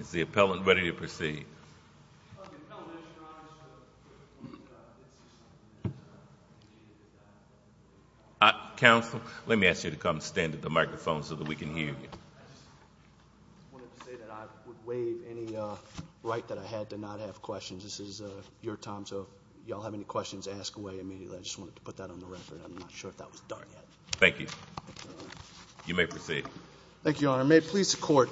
Is the appellant ready to proceed? I just wanted to say that I would waive any right that I had to not have questions. This is your time, so if you all have any questions, ask away immediately. I just wanted to put that on the record. I'm not sure if that was done yet. Thank you. You may proceed. Thank you, Your Honor. May it please the Court,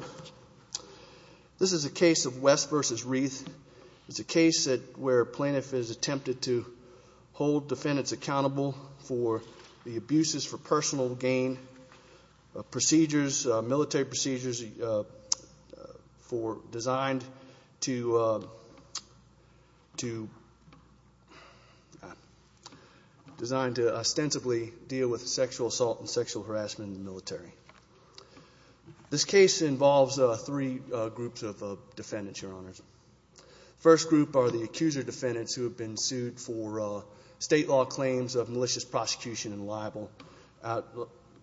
This is a case of West v. Rieth. It's a case where a plaintiff has attempted to hold defendants accountable for the abuses for personal gain, military procedures designed to ostensibly deal with sexual assault and sexual harassment in the military. This case involves three groups of defendants, Your Honors. The first group are the accuser defendants who have been sued for state law claims of malicious prosecution and libel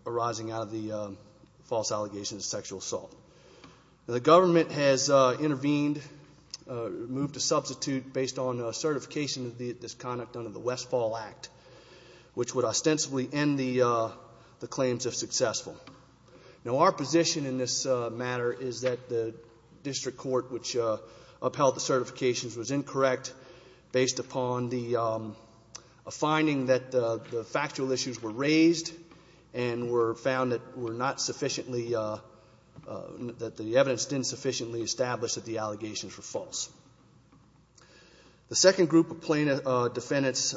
arising out of the false allegations of sexual assault. The government has intervened, moved to substitute based on certification of this conduct under the Westfall Act, which would ostensibly end the claims if successful. Now, our position in this matter is that the district court, which upheld the certifications, was incorrect based upon a finding that the factual issues were raised and were found that the evidence didn't sufficiently establish that the allegations were false. The second group of plaintiff defendants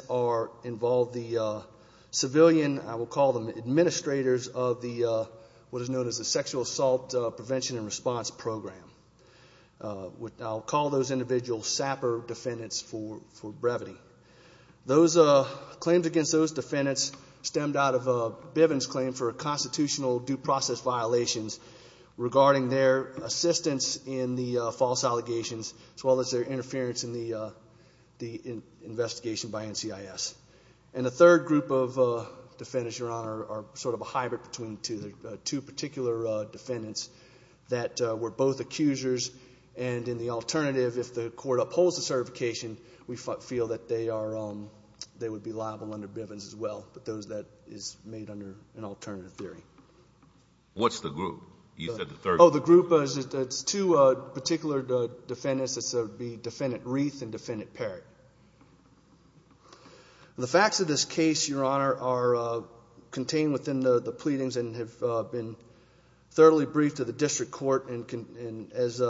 involve the civilian, I will call them administrators, of what is known as the Sexual Assault Prevention and Response Program. I'll call those individuals SAPR defendants for brevity. Claims against those defendants stemmed out of Bivens' claim for constitutional due process violations regarding their assistance in the false allegations as well as their interference in the investigation by NCIS. And the third group of defendants, Your Honor, are sort of a hybrid between the two particular defendants that were both accusers and in the alternative, if the court upholds the certification, we feel that they would be liable under Bivens as well, but that is made under an alternative theory. What's the group? You said the third group. Oh, the group is two particular defendants. It would be Defendant Reath and Defendant Parrott. The facts of this case, Your Honor, are contained within the pleadings and have been thoroughly briefed to the district court and, as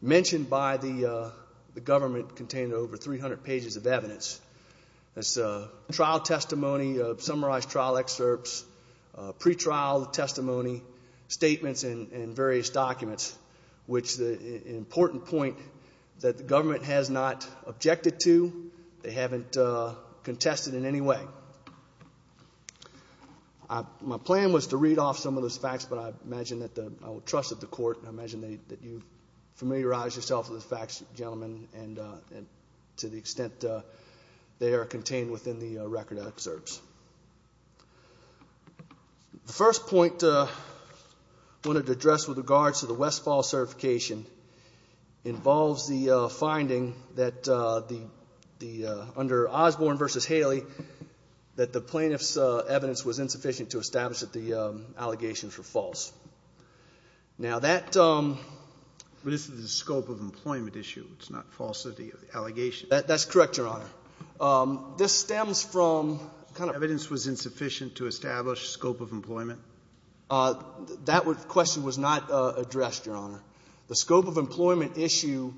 mentioned by the government, contain over 300 pages of evidence. That's trial testimony, summarized trial excerpts, pretrial testimony, statements, and various documents, which is an important point that the government has not objected to. They haven't contested in any way. My plan was to read off some of those facts, but I imagine that I would trust that the court, and I imagine that you've familiarized yourself with the facts, gentlemen, and to the extent they are contained within the record of excerpts. The first point I wanted to address with regards to the Westfall certification involves the finding that under Osborne v. Haley, that the plaintiff's evidence was insufficient to establish that the allegations were false. Now, that... But this is a scope of employment issue. It's not falsity of the allegations. That's correct, Your Honor. This stems from... Evidence was insufficient to establish scope of employment? That question was not addressed, Your Honor. The scope of employment issue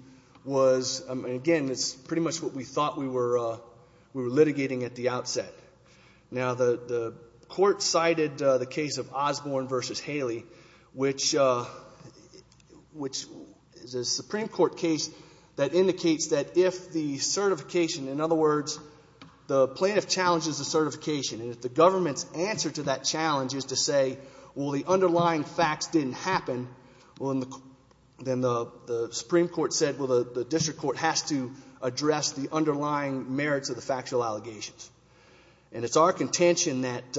was, again, it's pretty much what we thought we were litigating at the outset. Now, the court cited the case of Osborne v. Haley, which is a Supreme Court case that indicates that if the certification... In other words, the plaintiff challenges the certification, and if the government's answer to that challenge is to say, well, the underlying facts didn't happen, well, then the Supreme Court said, well, the district court has to address the underlying merits of the factual allegations. And it's our contention that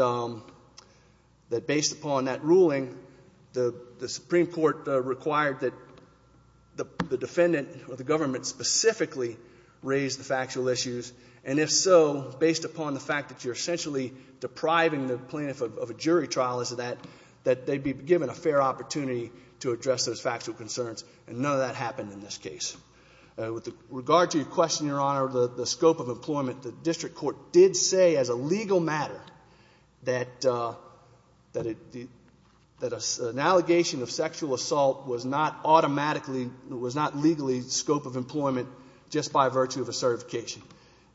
based upon that ruling, the Supreme Court required that the defendant or the government specifically raise the factual issues, and if so, based upon the fact that you're essentially depriving the plaintiff of a jury trial as to that, that they be given a fair opportunity to address those factual concerns, and none of that happened in this case. With regard to your question, Your Honor, the scope of employment, the district court did say as a legal matter that an allegation of sexual assault was not automatically, was not legally scope of employment just by virtue of a certification,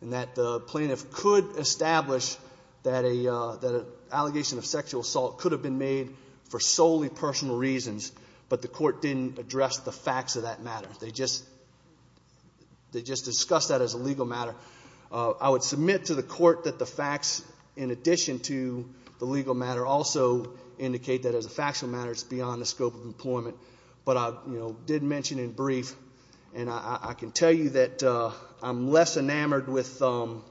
and that the plaintiff could establish that an allegation of sexual assault could have been made for solely personal reasons, but the court didn't address the facts of that matter. They just discussed that as a legal matter. I would submit to the court that the facts in addition to the legal matter also indicate that as a factual matter, it's beyond the scope of employment, but I did mention in brief, and I can tell you that I'm less enamored with the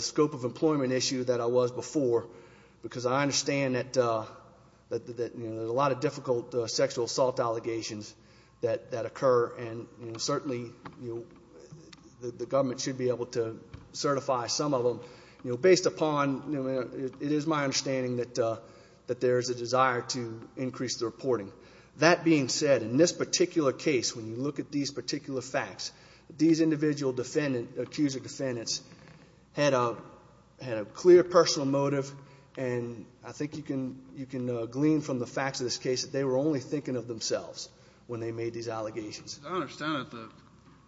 scope of employment issue than I was before, because I understand that there's a lot of difficult sexual assault allegations that occur, and certainly the government should be able to certify some of them. Based upon, it is my understanding that there is a desire to increase the reporting. That being said, in this particular case, when you look at these particular facts, these individual accused defendants had a clear personal motive, and I think you can glean from the facts of this case that they were only thinking of themselves when they made these allegations. I understand that the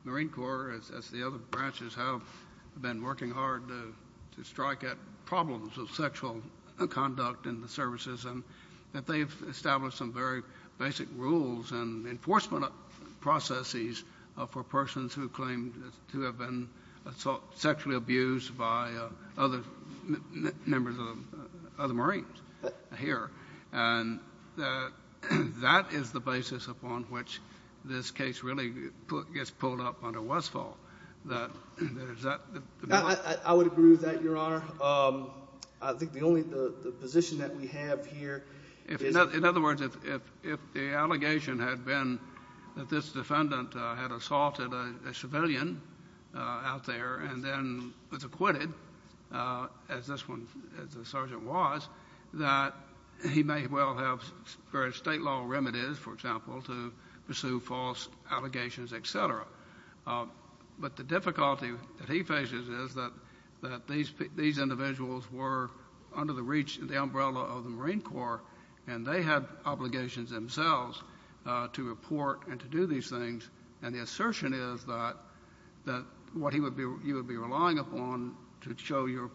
Marine Corps, as the other branches have, have been working hard to strike at problems of sexual conduct in the services, and that they've established some very basic rules and enforcement processes for persons who claim to have been sexually abused by other members of the Marines here. That is the basis upon which this case really gets pulled up under Westfall. I would agree with that, Your Honor. I think the only position that we have here is- In other words, if the allegation had been that this defendant had assaulted a civilian out there and then was acquitted, as this one, as the sergeant was, that he may well have various state law remedies, for example, to pursue false allegations, et cetera. But the difficulty that he faces is that these individuals were under the reach, the umbrella of the Marine Corps, and they had obligations themselves to report and to do these things. And the assertion is that what you would be relying upon to show your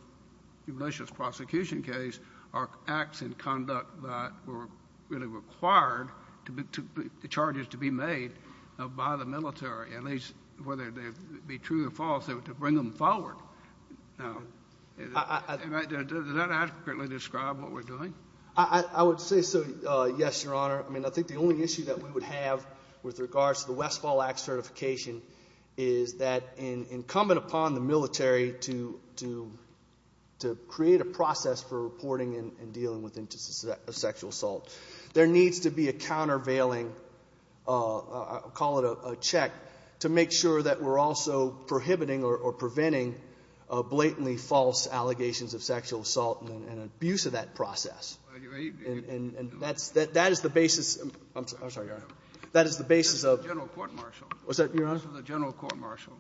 malicious prosecution case are acts and conduct that were really required, the charges to be made by the military. At least, whether they be true or false, to bring them forward. Does that accurately describe what we're doing? I would say so, yes, Your Honor. I mean, I think the only issue that we would have with regards to the Westfall Act certification is that incumbent upon the military to create a process for reporting and dealing with instances of sexual assault. There needs to be a countervailing, I'll call it a check, to make sure that we're also prohibiting or preventing blatantly false allegations of sexual assault and abuse of that process. And that's the basis. I'm sorry, Your Honor. That is the basis of the general court-martial. What's that, Your Honor? This was a general court-martial.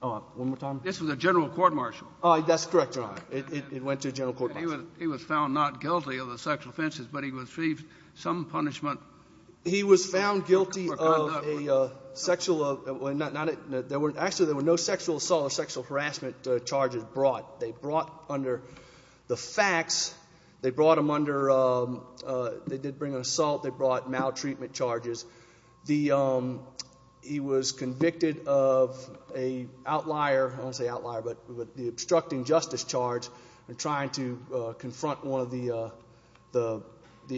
Hold on. One more time. This was a general court-martial. That's correct, Your Honor. It went to a general court-martial. He was found not guilty of the sexual offenses, but he received some punishment for conduct. He was found guilty of a sexual—actually, there were no sexual assault or sexual harassment charges brought. They brought under the facts. They brought them under—they did bring an assault. They brought maltreatment charges. He was convicted of an outlier—I won't say outlier, but the obstructing justice charge and trying to confront one of the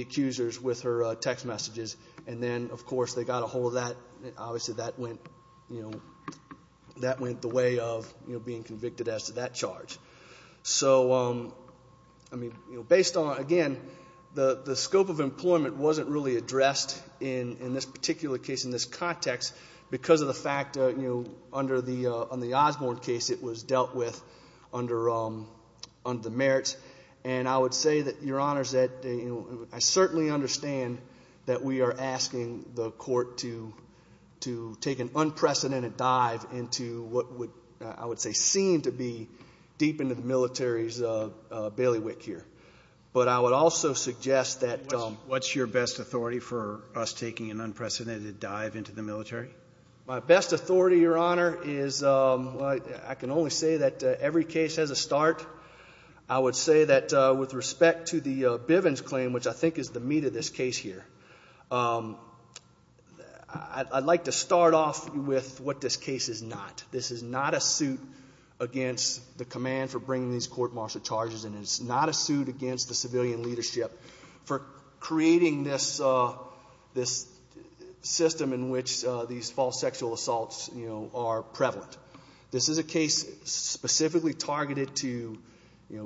accusers with her text messages. And then, of course, they got a hold of that. Obviously, that went the way of being convicted as to that charge. So, I mean, based on—again, the scope of employment wasn't really addressed in this particular case, in this context, because of the fact, under the Osborne case, it was dealt with under the merits. And I would say that, Your Honors, that I certainly understand that we are asking the court to take an unprecedented dive into what would, I would say, seem to be deep into the military's bailiwick here. But I would also suggest that— What's your best authority for us taking an unprecedented dive into the military? My best authority, Your Honor, is—I can only say that every case has a start. I would say that with respect to the Bivens claim, which I think is the meat of this case here, I'd like to start off with what this case is not. This is not a suit against the command for bringing these court martial charges in. It's not a suit against the civilian leadership for creating this system in which these false sexual assaults are prevalent. This is a case specifically targeted to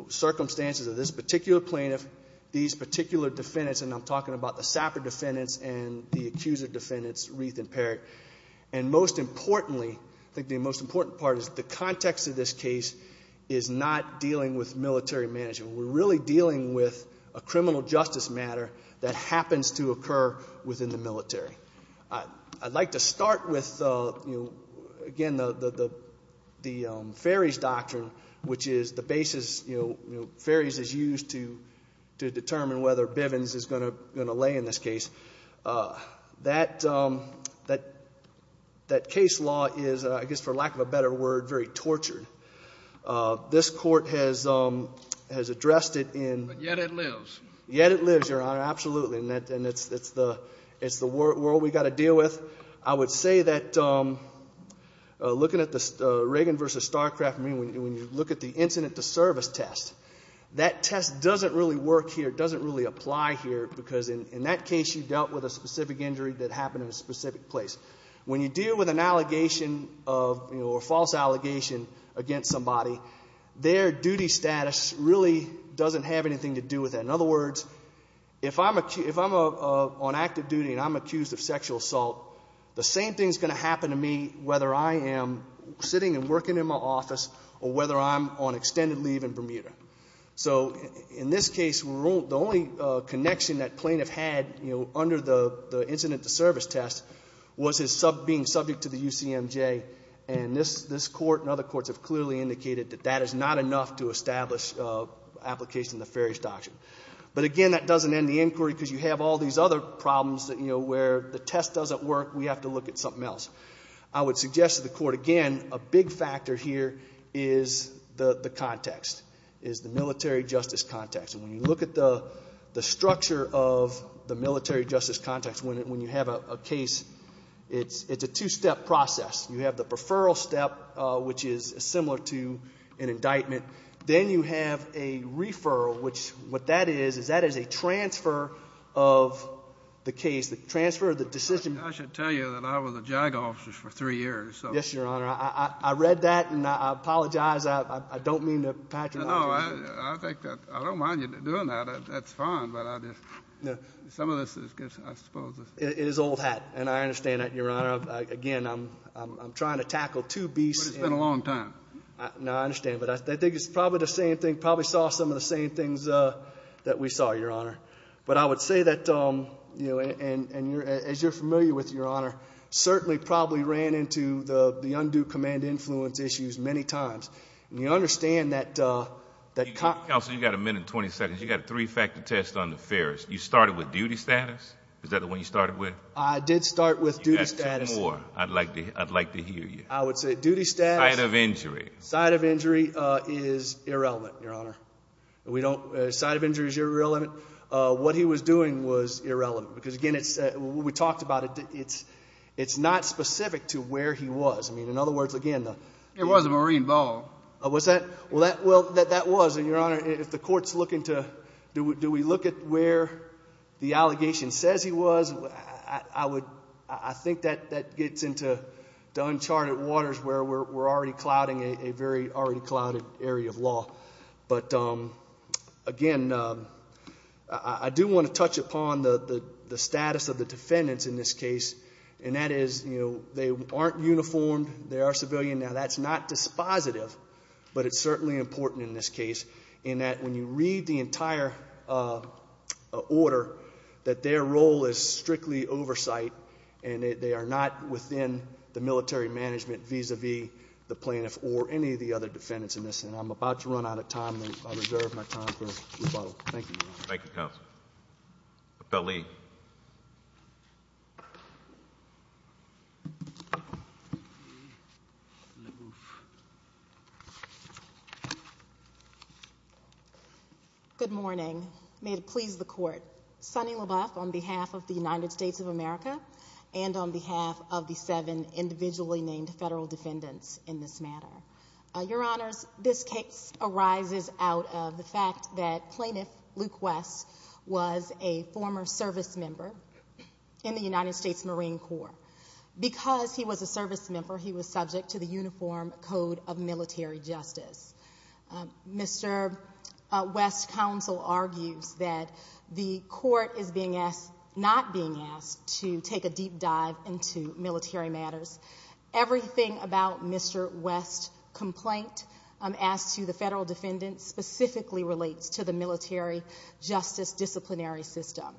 circumstances of this particular plaintiff, these particular defendants, and I'm talking about the Sapper defendants and the accuser defendants, Reith and Parrott. And most importantly, I think the most important part is the context of this case is not dealing with military management. We're really dealing with a criminal justice matter that happens to occur within the military. I'd like to start with, you know, again, the Ferries doctrine, which is the basis, you know, Ferries is used to determine whether Bivens is going to lay in this case. That case law is, I guess for lack of a better word, very tortured. This Court has addressed it in— But yet it lives. Yet it lives, Your Honor, absolutely. And it's the world we've got to deal with. I would say that looking at the Reagan v. Starcraft, I mean, when you look at the incident to service test, that test doesn't really work here, doesn't really apply here, because in that case you dealt with a specific injury that happened in a specific place. When you deal with an allegation of, you know, a false allegation against somebody, their duty status really doesn't have anything to do with that. In other words, if I'm on active duty and I'm accused of sexual assault, the same thing is going to happen to me whether I am sitting and working in my office or whether I'm on extended leave in Bermuda. So in this case, the only connection that plaintiff had, you know, under the incident to service test was his being subject to the UCMJ, and this Court and other courts have clearly indicated that that is not enough to establish application of the Ferris Doctrine. But, again, that doesn't end the inquiry because you have all these other problems that, you know, where the test doesn't work, we have to look at something else. I would suggest to the Court, again, a big factor here is the context, is the military justice context. And when you look at the structure of the military justice context, when you have a case, it's a two-step process. You have the preferral step, which is similar to an indictment. Then you have a referral, which what that is is that is a transfer of the case, the transfer of the decision. I should tell you that I was a JAG officer for three years. Yes, Your Honor. I read that, and I apologize. I don't mean to patronize you. No, I think that I don't mind you doing that. That's fine. But I just, some of this is, I suppose. It is old hat, and I understand that, Your Honor. Again, I'm trying to tackle two beasts. But it's been a long time. No, I understand. But I think it's probably the same thing, probably saw some of the same things that we saw, Your Honor. But I would say that, you know, and as you're familiar with, Your Honor, certainly probably ran into the undue command influence issues many times. And you understand that. Counsel, you've got a minute and 20 seconds. You've got a three-factor test on the Ferris. You started with duty status? Is that the one you started with? I did start with duty status. You've got two more I'd like to hear you. I would say duty status. Sight of injury. Sight of injury is irrelevant, Your Honor. We don't, sight of injury is irrelevant. What he was doing was irrelevant. Because, again, we talked about it. It's not specific to where he was. I mean, in other words, again. It was a marine ball. Was that? Well, that was. And, Your Honor, if the court's looking to, do we look at where the allegation says he was? I think that gets into uncharted waters where we're already clouding a very already clouded area of law. But, again, I do want to touch upon the status of the defendants in this case. And that is, you know, they aren't uniformed. They are civilian. Now, that's not dispositive. But it's certainly important in this case. In that when you read the entire order, that their role is strictly oversight. And they are not within the military management vis-a-vis the plaintiff or any of the other defendants in this. And I'm about to run out of time. I reserve my time for rebuttal. Thank you, Your Honor. Thank you, Counsel. Appellee. Good morning. May it please the court. Sunny LaBeouf on behalf of the United States of America and on behalf of the seven individually named federal defendants in this matter. Your Honors, this case arises out of the fact that Plaintiff Luke West was a former service member in the United States Marine Corps. Because he was a service member, he was subject to the Uniform Code of Military Justice. Mr. West's counsel argues that the court is not being asked to take a deep dive into military matters. Everything about Mr. West's complaint as to the federal defendants specifically relates to the military justice disciplinary system.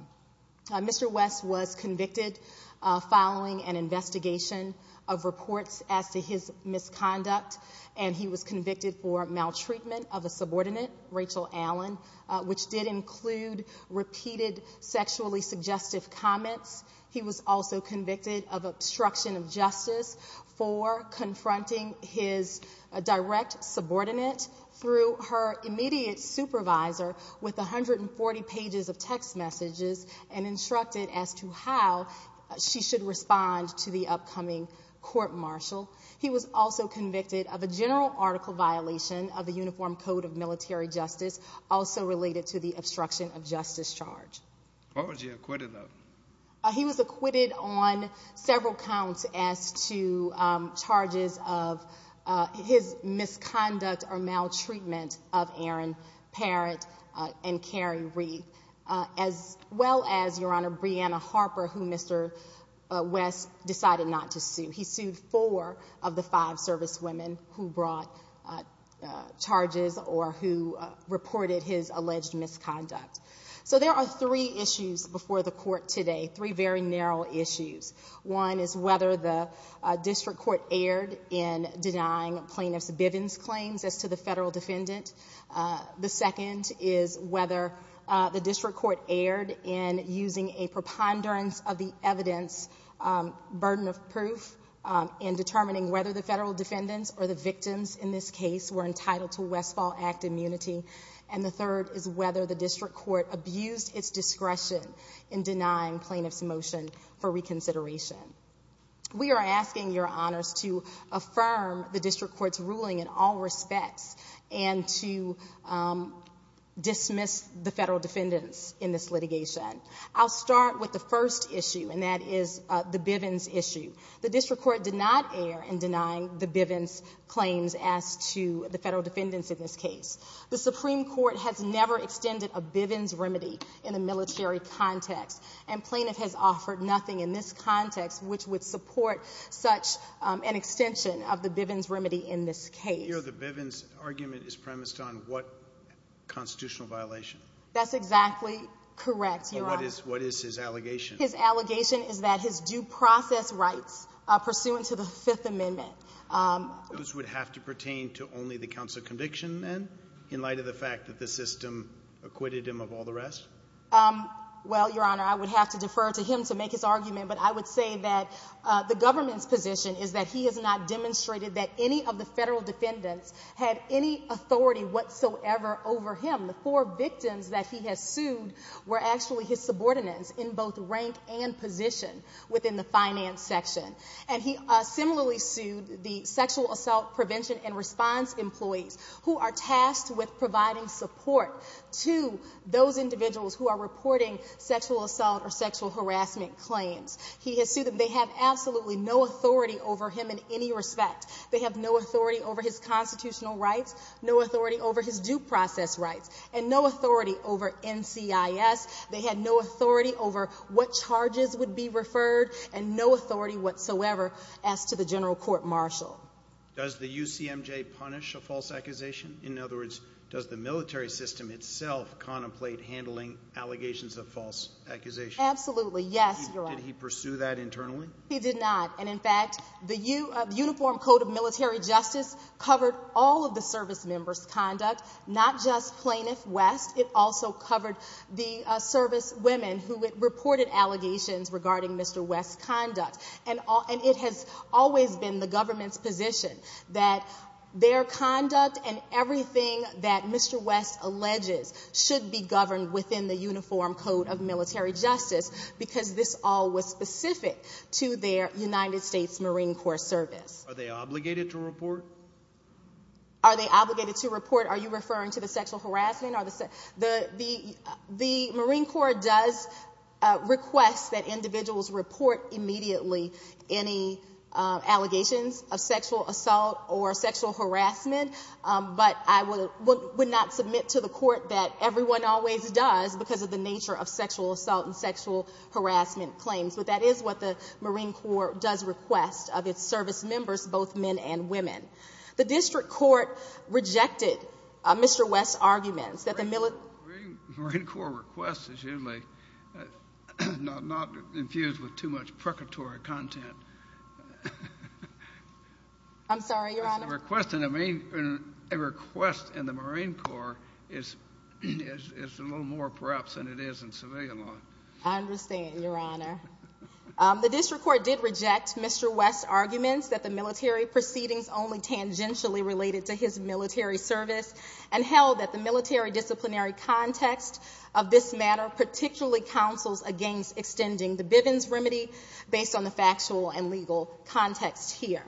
Mr. West was convicted following an investigation of reports as to his misconduct. And he was convicted for maltreatment of a subordinate, Rachel Allen, which did include repeated sexually suggestive comments. He was also convicted of obstruction of justice for confronting his direct subordinate through her immediate supervisor with 140 pages of text messages and instructed as to how she should respond to the upcoming court-martial. He was also convicted of a general article violation of the Uniform Code of Military Justice also related to the obstruction of justice charge. What was he acquitted of? He was acquitted on several counts as to charges of his misconduct or maltreatment of Aaron Parrott and Carrie Reed, as well as, Your Honor, Breanna Harper, who Mr. West decided not to sue. He sued four of the five servicewomen who brought charges or who reported his alleged misconduct. So there are three issues before the court today, three very narrow issues. One is whether the district court erred in denying plaintiff's Bivens claims as to the federal defendant. The second is whether the district court erred in using a preponderance of the evidence burden of proof in determining whether the federal defendants or the victims in this case were entitled to Westfall Act immunity. And the third is whether the district court abused its discretion in denying plaintiff's motion for reconsideration. We are asking, Your Honors, to affirm the district court's ruling in all respects and to dismiss the federal defendants in this litigation. I'll start with the first issue, and that is the Bivens issue. The district court did not err in denying the Bivens claims as to the federal defendants in this case. The Supreme Court has never extended a Bivens remedy in a military context, and plaintiff has offered nothing in this context which would support such an extension of the Bivens remedy in this case. Your Honor, the Bivens argument is premised on what constitutional violation? That's exactly correct, Your Honor. What is his allegation? His allegation is that his due process rights pursuant to the Fifth Amendment. Those would have to pertain to only the counsel conviction, then, in light of the fact that the system acquitted him of all the rest? Well, Your Honor, I would have to defer to him to make his argument, but I would say that the government's position is that he has not demonstrated that any of the federal defendants had any authority whatsoever over him. The four victims that he has sued were actually his subordinates in both rank and position within the finance section. And he similarly sued the sexual assault prevention and response employees, who are tasked with providing support to those individuals who are reporting sexual assault or sexual harassment claims. He has sued them. They have absolutely no authority over him in any respect. They have no authority over his constitutional rights, no authority over his due process rights, and no authority over NCIS. They had no authority over what charges would be referred and no authority whatsoever as to the general court martial. Does the UCMJ punish a false accusation? In other words, does the military system itself contemplate handling allegations of false accusations? Absolutely, yes, Your Honor. Did he pursue that internally? He did not. And, in fact, the Uniform Code of Military Justice covered all of the servicemembers' conduct, not just Plaintiff West. It also covered the servicewomen who reported allegations regarding Mr. West's conduct. And it has always been the government's position that their conduct and everything that Mr. West alleges should be governed within the Uniform Code of Military Justice because this all was specific to their United States Marine Corps service. Are they obligated to report? Are they obligated to report? Are you referring to the sexual harassment? The Marine Corps does request that individuals report immediately any allegations of sexual assault or sexual harassment, but I would not submit to the court that everyone always does because of the nature of sexual assault and sexual harassment claims. But that is what the Marine Corps does request of its servicemembers, both men and women. The district court rejected Mr. West's arguments that the military… The Marine Corps request is usually not infused with too much purgatory content. I'm sorry, Your Honor? A request in the Marine Corps is a little more perhaps than it is in civilian law. I understand, Your Honor. The district court did reject Mr. West's arguments that the military proceedings only tangentially related to his military service and held that the military disciplinary context of this matter particularly counsels against extending the Bivens remedy based on the factual and legal context here.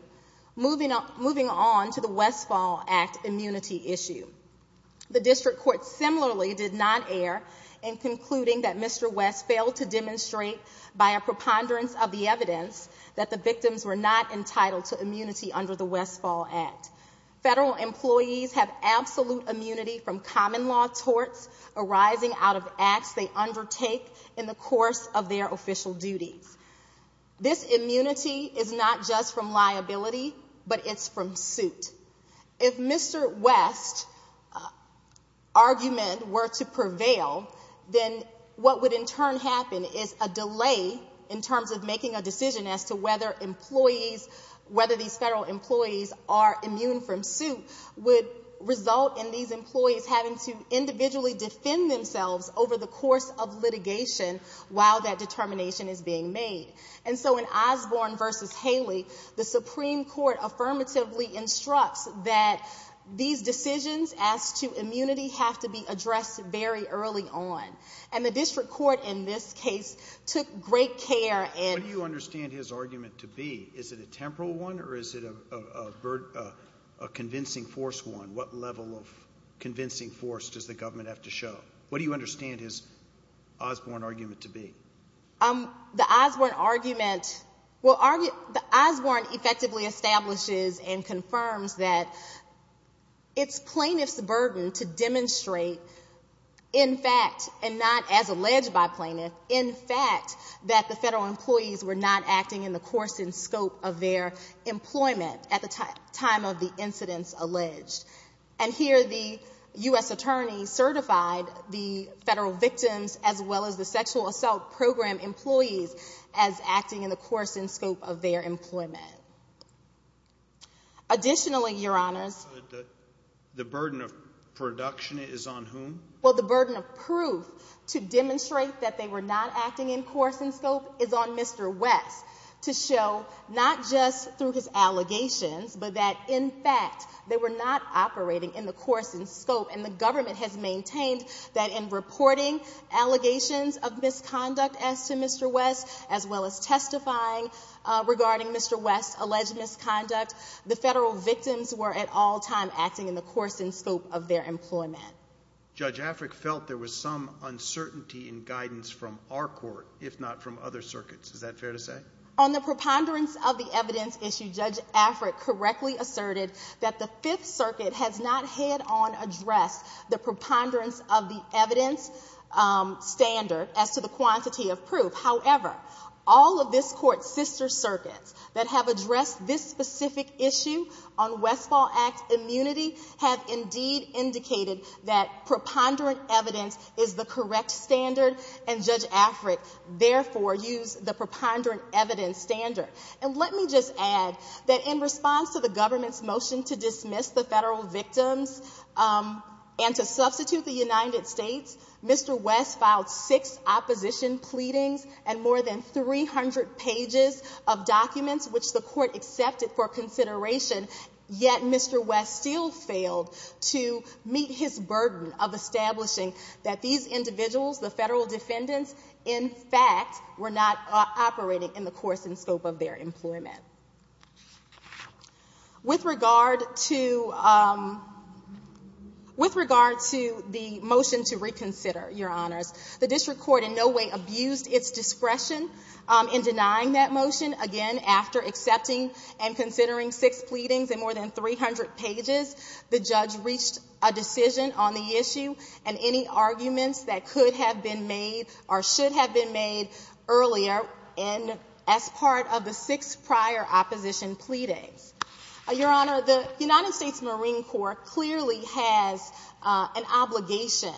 Moving on to the Westfall Act immunity issue, the district court similarly did not err in concluding that Mr. West failed to demonstrate by a preponderance of the evidence that the victims were not entitled to immunity under the Westfall Act. Federal employees have absolute immunity from common law torts arising out of acts they undertake in the course of their official duties. This immunity is not just from liability, but it's from suit. If Mr. West's argument were to prevail, then what would in turn happen is a delay in terms of making a decision as to whether these federal employees are immune from suit would result in these employees having to individually defend themselves over the course of litigation while that determination is being made. And so in Osborne v. Haley, the Supreme Court affirmatively instructs that these decisions as to immunity have to be addressed very early on. And the district court in this case took great care and What do you understand his argument to be? Is it a temporal one or is it a convincing force one? What level of convincing force does the government have to show? What do you understand his Osborne argument to be? The Osborne argument, well, Osborne effectively establishes and confirms that it's plaintiff's burden to demonstrate, in fact, and not as alleged by plaintiff, in fact, that the federal employees were not acting in the course and scope of their employment at the time of the incidents alleged. And here the U.S. attorney certified the federal victims, as well as the sexual assault program employees, as acting in the course and scope of their employment. Additionally, Your Honors, The burden of production is on whom? Well, the burden of proof to demonstrate that they were not acting in course and scope is on Mr. West to show not just through his allegations, but that, in fact, they were not operating in the course and scope. And the government has maintained that in reporting allegations of misconduct as to Mr. West, as well as testifying regarding Mr. West's alleged misconduct, the federal victims were at all times acting in the course and scope of their employment. Judge Afric felt there was some uncertainty in guidance from our court, if not from other circuits. Is that fair to say? On the preponderance of the evidence issue, Judge Afric correctly asserted that the Fifth Circuit has not head-on addressed the preponderance of the evidence standard as to the quantity of proof. However, all of this Court's sister circuits that have addressed this specific issue on Westfall Act immunity have indeed indicated that preponderant evidence is the correct standard, and Judge Afric therefore used the preponderant evidence standard. And let me just add that in response to the government's motion to dismiss the federal victims and to substitute the United States, Mr. West filed six opposition pleadings and more than 300 pages of documents, which the Court accepted for consideration. Yet Mr. West still failed to meet his burden of establishing that these individuals, the federal defendants, in fact, were not operating in the course and scope of their employment. With regard to the motion to reconsider, Your Honors, the district court in no way abused its discretion in denying that motion. Again, after accepting and considering six pleadings and more than 300 pages, the judge reached a decision on the issue and any arguments that could have been made or should have been made earlier as part of the six prior opposition pleadings. Your Honor, the United States Marine Corps clearly has an obligation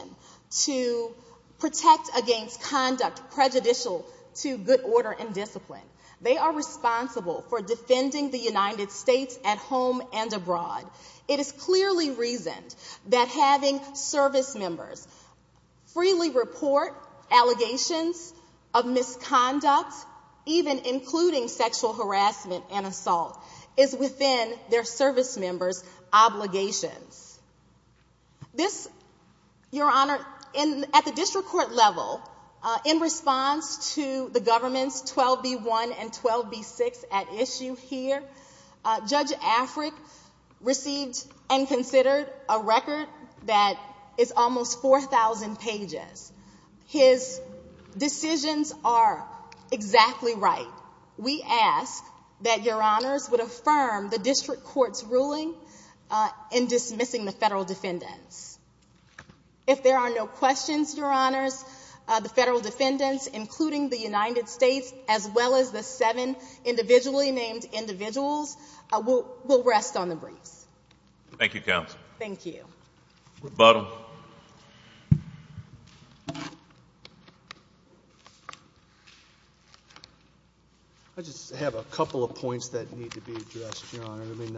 to protect against conduct prejudicial to good order and discipline. They are responsible for defending the United States at home and abroad. It is clearly reasoned that having service members freely report allegations of misconduct, even including sexual harassment and assault, is within their service members' obligations. This, Your Honor, at the district court level, in response to the government's 12B1 and 12B6 at issue here, Judge Afric received and considered a record that is almost 4,000 pages. His decisions are exactly right. We ask that Your Honors would affirm the district court's ruling in dismissing the federal defendants. If there are no questions, Your Honors, the federal defendants, including the United States, as well as the seven individually named individuals, will rest on the briefs. Thank you, Counsel. Thank you. Mr. Bottom. I just have a couple of points that need to be addressed, Your Honor. I mean,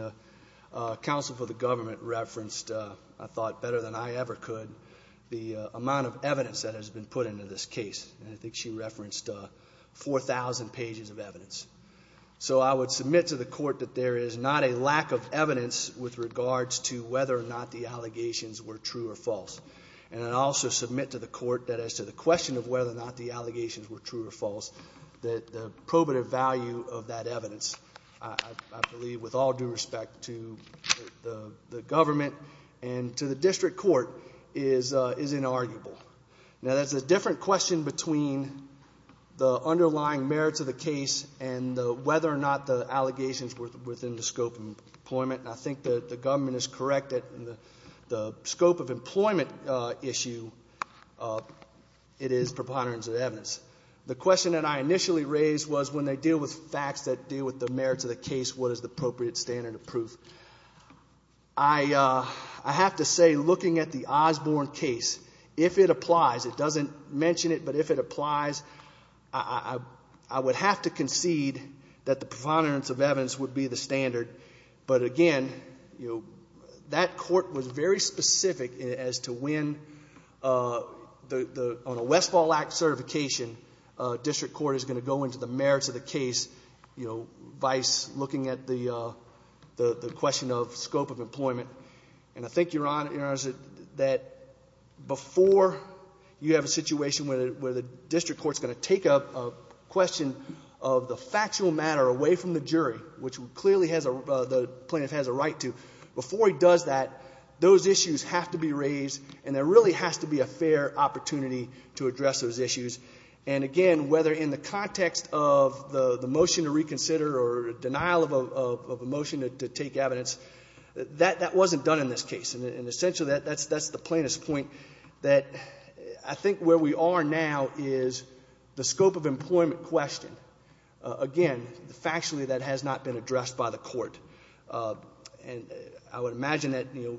the counsel for the government referenced, I thought better than I ever could, the amount of evidence that has been put into this case, and I think she referenced 4,000 pages of evidence. So I would submit to the court that there is not a lack of evidence with regards to whether or not the allegations were true or false. And I'd also submit to the court that as to the question of whether or not the allegations were true or false, that the probative value of that evidence, I believe with all due respect to the government and to the district court, is inarguable. Now, that's a different question between the underlying merits of the case and whether or not the allegations were within the scope of employment. And I think that the government is correct that the scope of employment issue, it is preponderance of evidence. The question that I initially raised was when they deal with facts that deal with the merits of the case, what is the appropriate standard of proof? I have to say looking at the Osborne case, if it applies, it doesn't mention it, but if it applies, I would have to concede that the preponderance of evidence would be the standard. But again, that court was very specific as to when on a Westfall Act certification, district court is going to go into the merits of the case, you know, vice looking at the question of scope of employment. And I think, Your Honor, that before you have a situation where the district court is going to take up a question of the factual matter away from the jury, which clearly the plaintiff has a right to, before he does that, those issues have to be raised and there really has to be a fair opportunity to address those issues. And again, whether in the context of the motion to reconsider or denial of a motion to take evidence, that wasn't done in this case. And essentially that's the plaintiff's point, that I think where we are now is the scope of employment question. Again, factually that has not been addressed by the court. And I would imagine that, you know,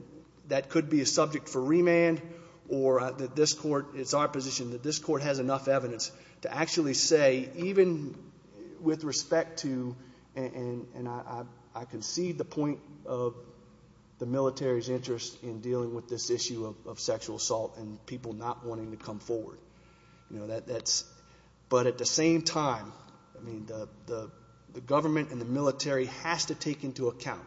that could be a subject for remand or that this court, it's our position that this court has enough evidence to actually say, even with respect to, and I concede the point of the military's interest in dealing with this issue of sexual assault and people not wanting to come forward, you know, but at the same time, I mean, the government and the military has to take into account,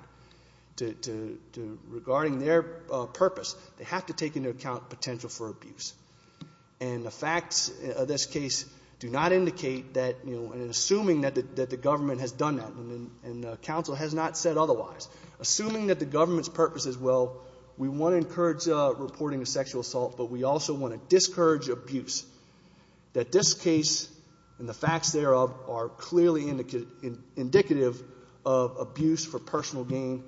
regarding their purpose, they have to take into account potential for abuse. And the facts of this case do not indicate that, you know, and assuming that the government has done that and counsel has not said otherwise, assuming that the government's purpose is, well, we want to encourage reporting of sexual assault, but we also want to discourage abuse, that this case and the facts thereof are clearly indicative of abuse for personal gain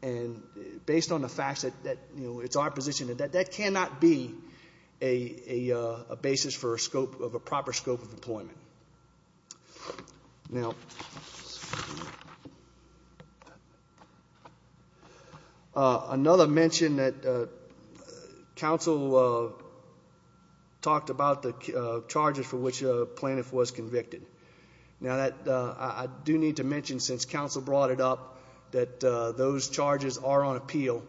and based on the facts that, you know, it's our position that that cannot be a basis for a scope, of a proper scope of employment. Now, another mention that counsel talked about the charges for which Plaintiff was convicted. Now, I do need to mention, since counsel brought it up, that those charges are on appeal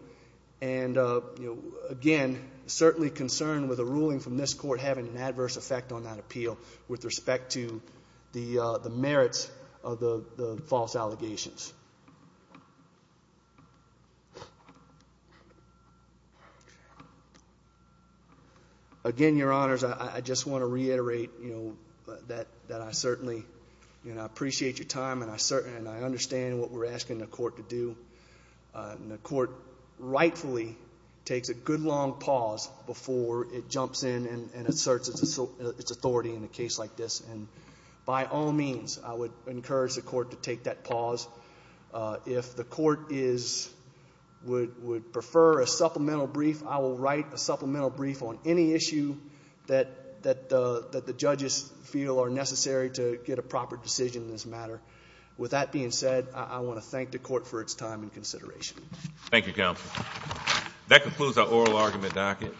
and, you know, again, certainly concerned with a ruling from this court having an adverse effect on that appeal with respect to the merits of the false allegations. Again, Your Honors, I just want to reiterate, you know, that I certainly, you know, appreciate your time and I understand what we're asking the court to do. And the court rightfully takes a good long pause before it jumps in and asserts its authority in a case like this. And by all means, I would encourage the court to take that pause. If the court would prefer a supplemental brief, I will write a supplemental brief on any issue that the judges feel are necessary to get a proper decision in this matter. With that being said, I want to thank the court for its time and consideration. Thank you, counsel. That concludes our oral argument docket.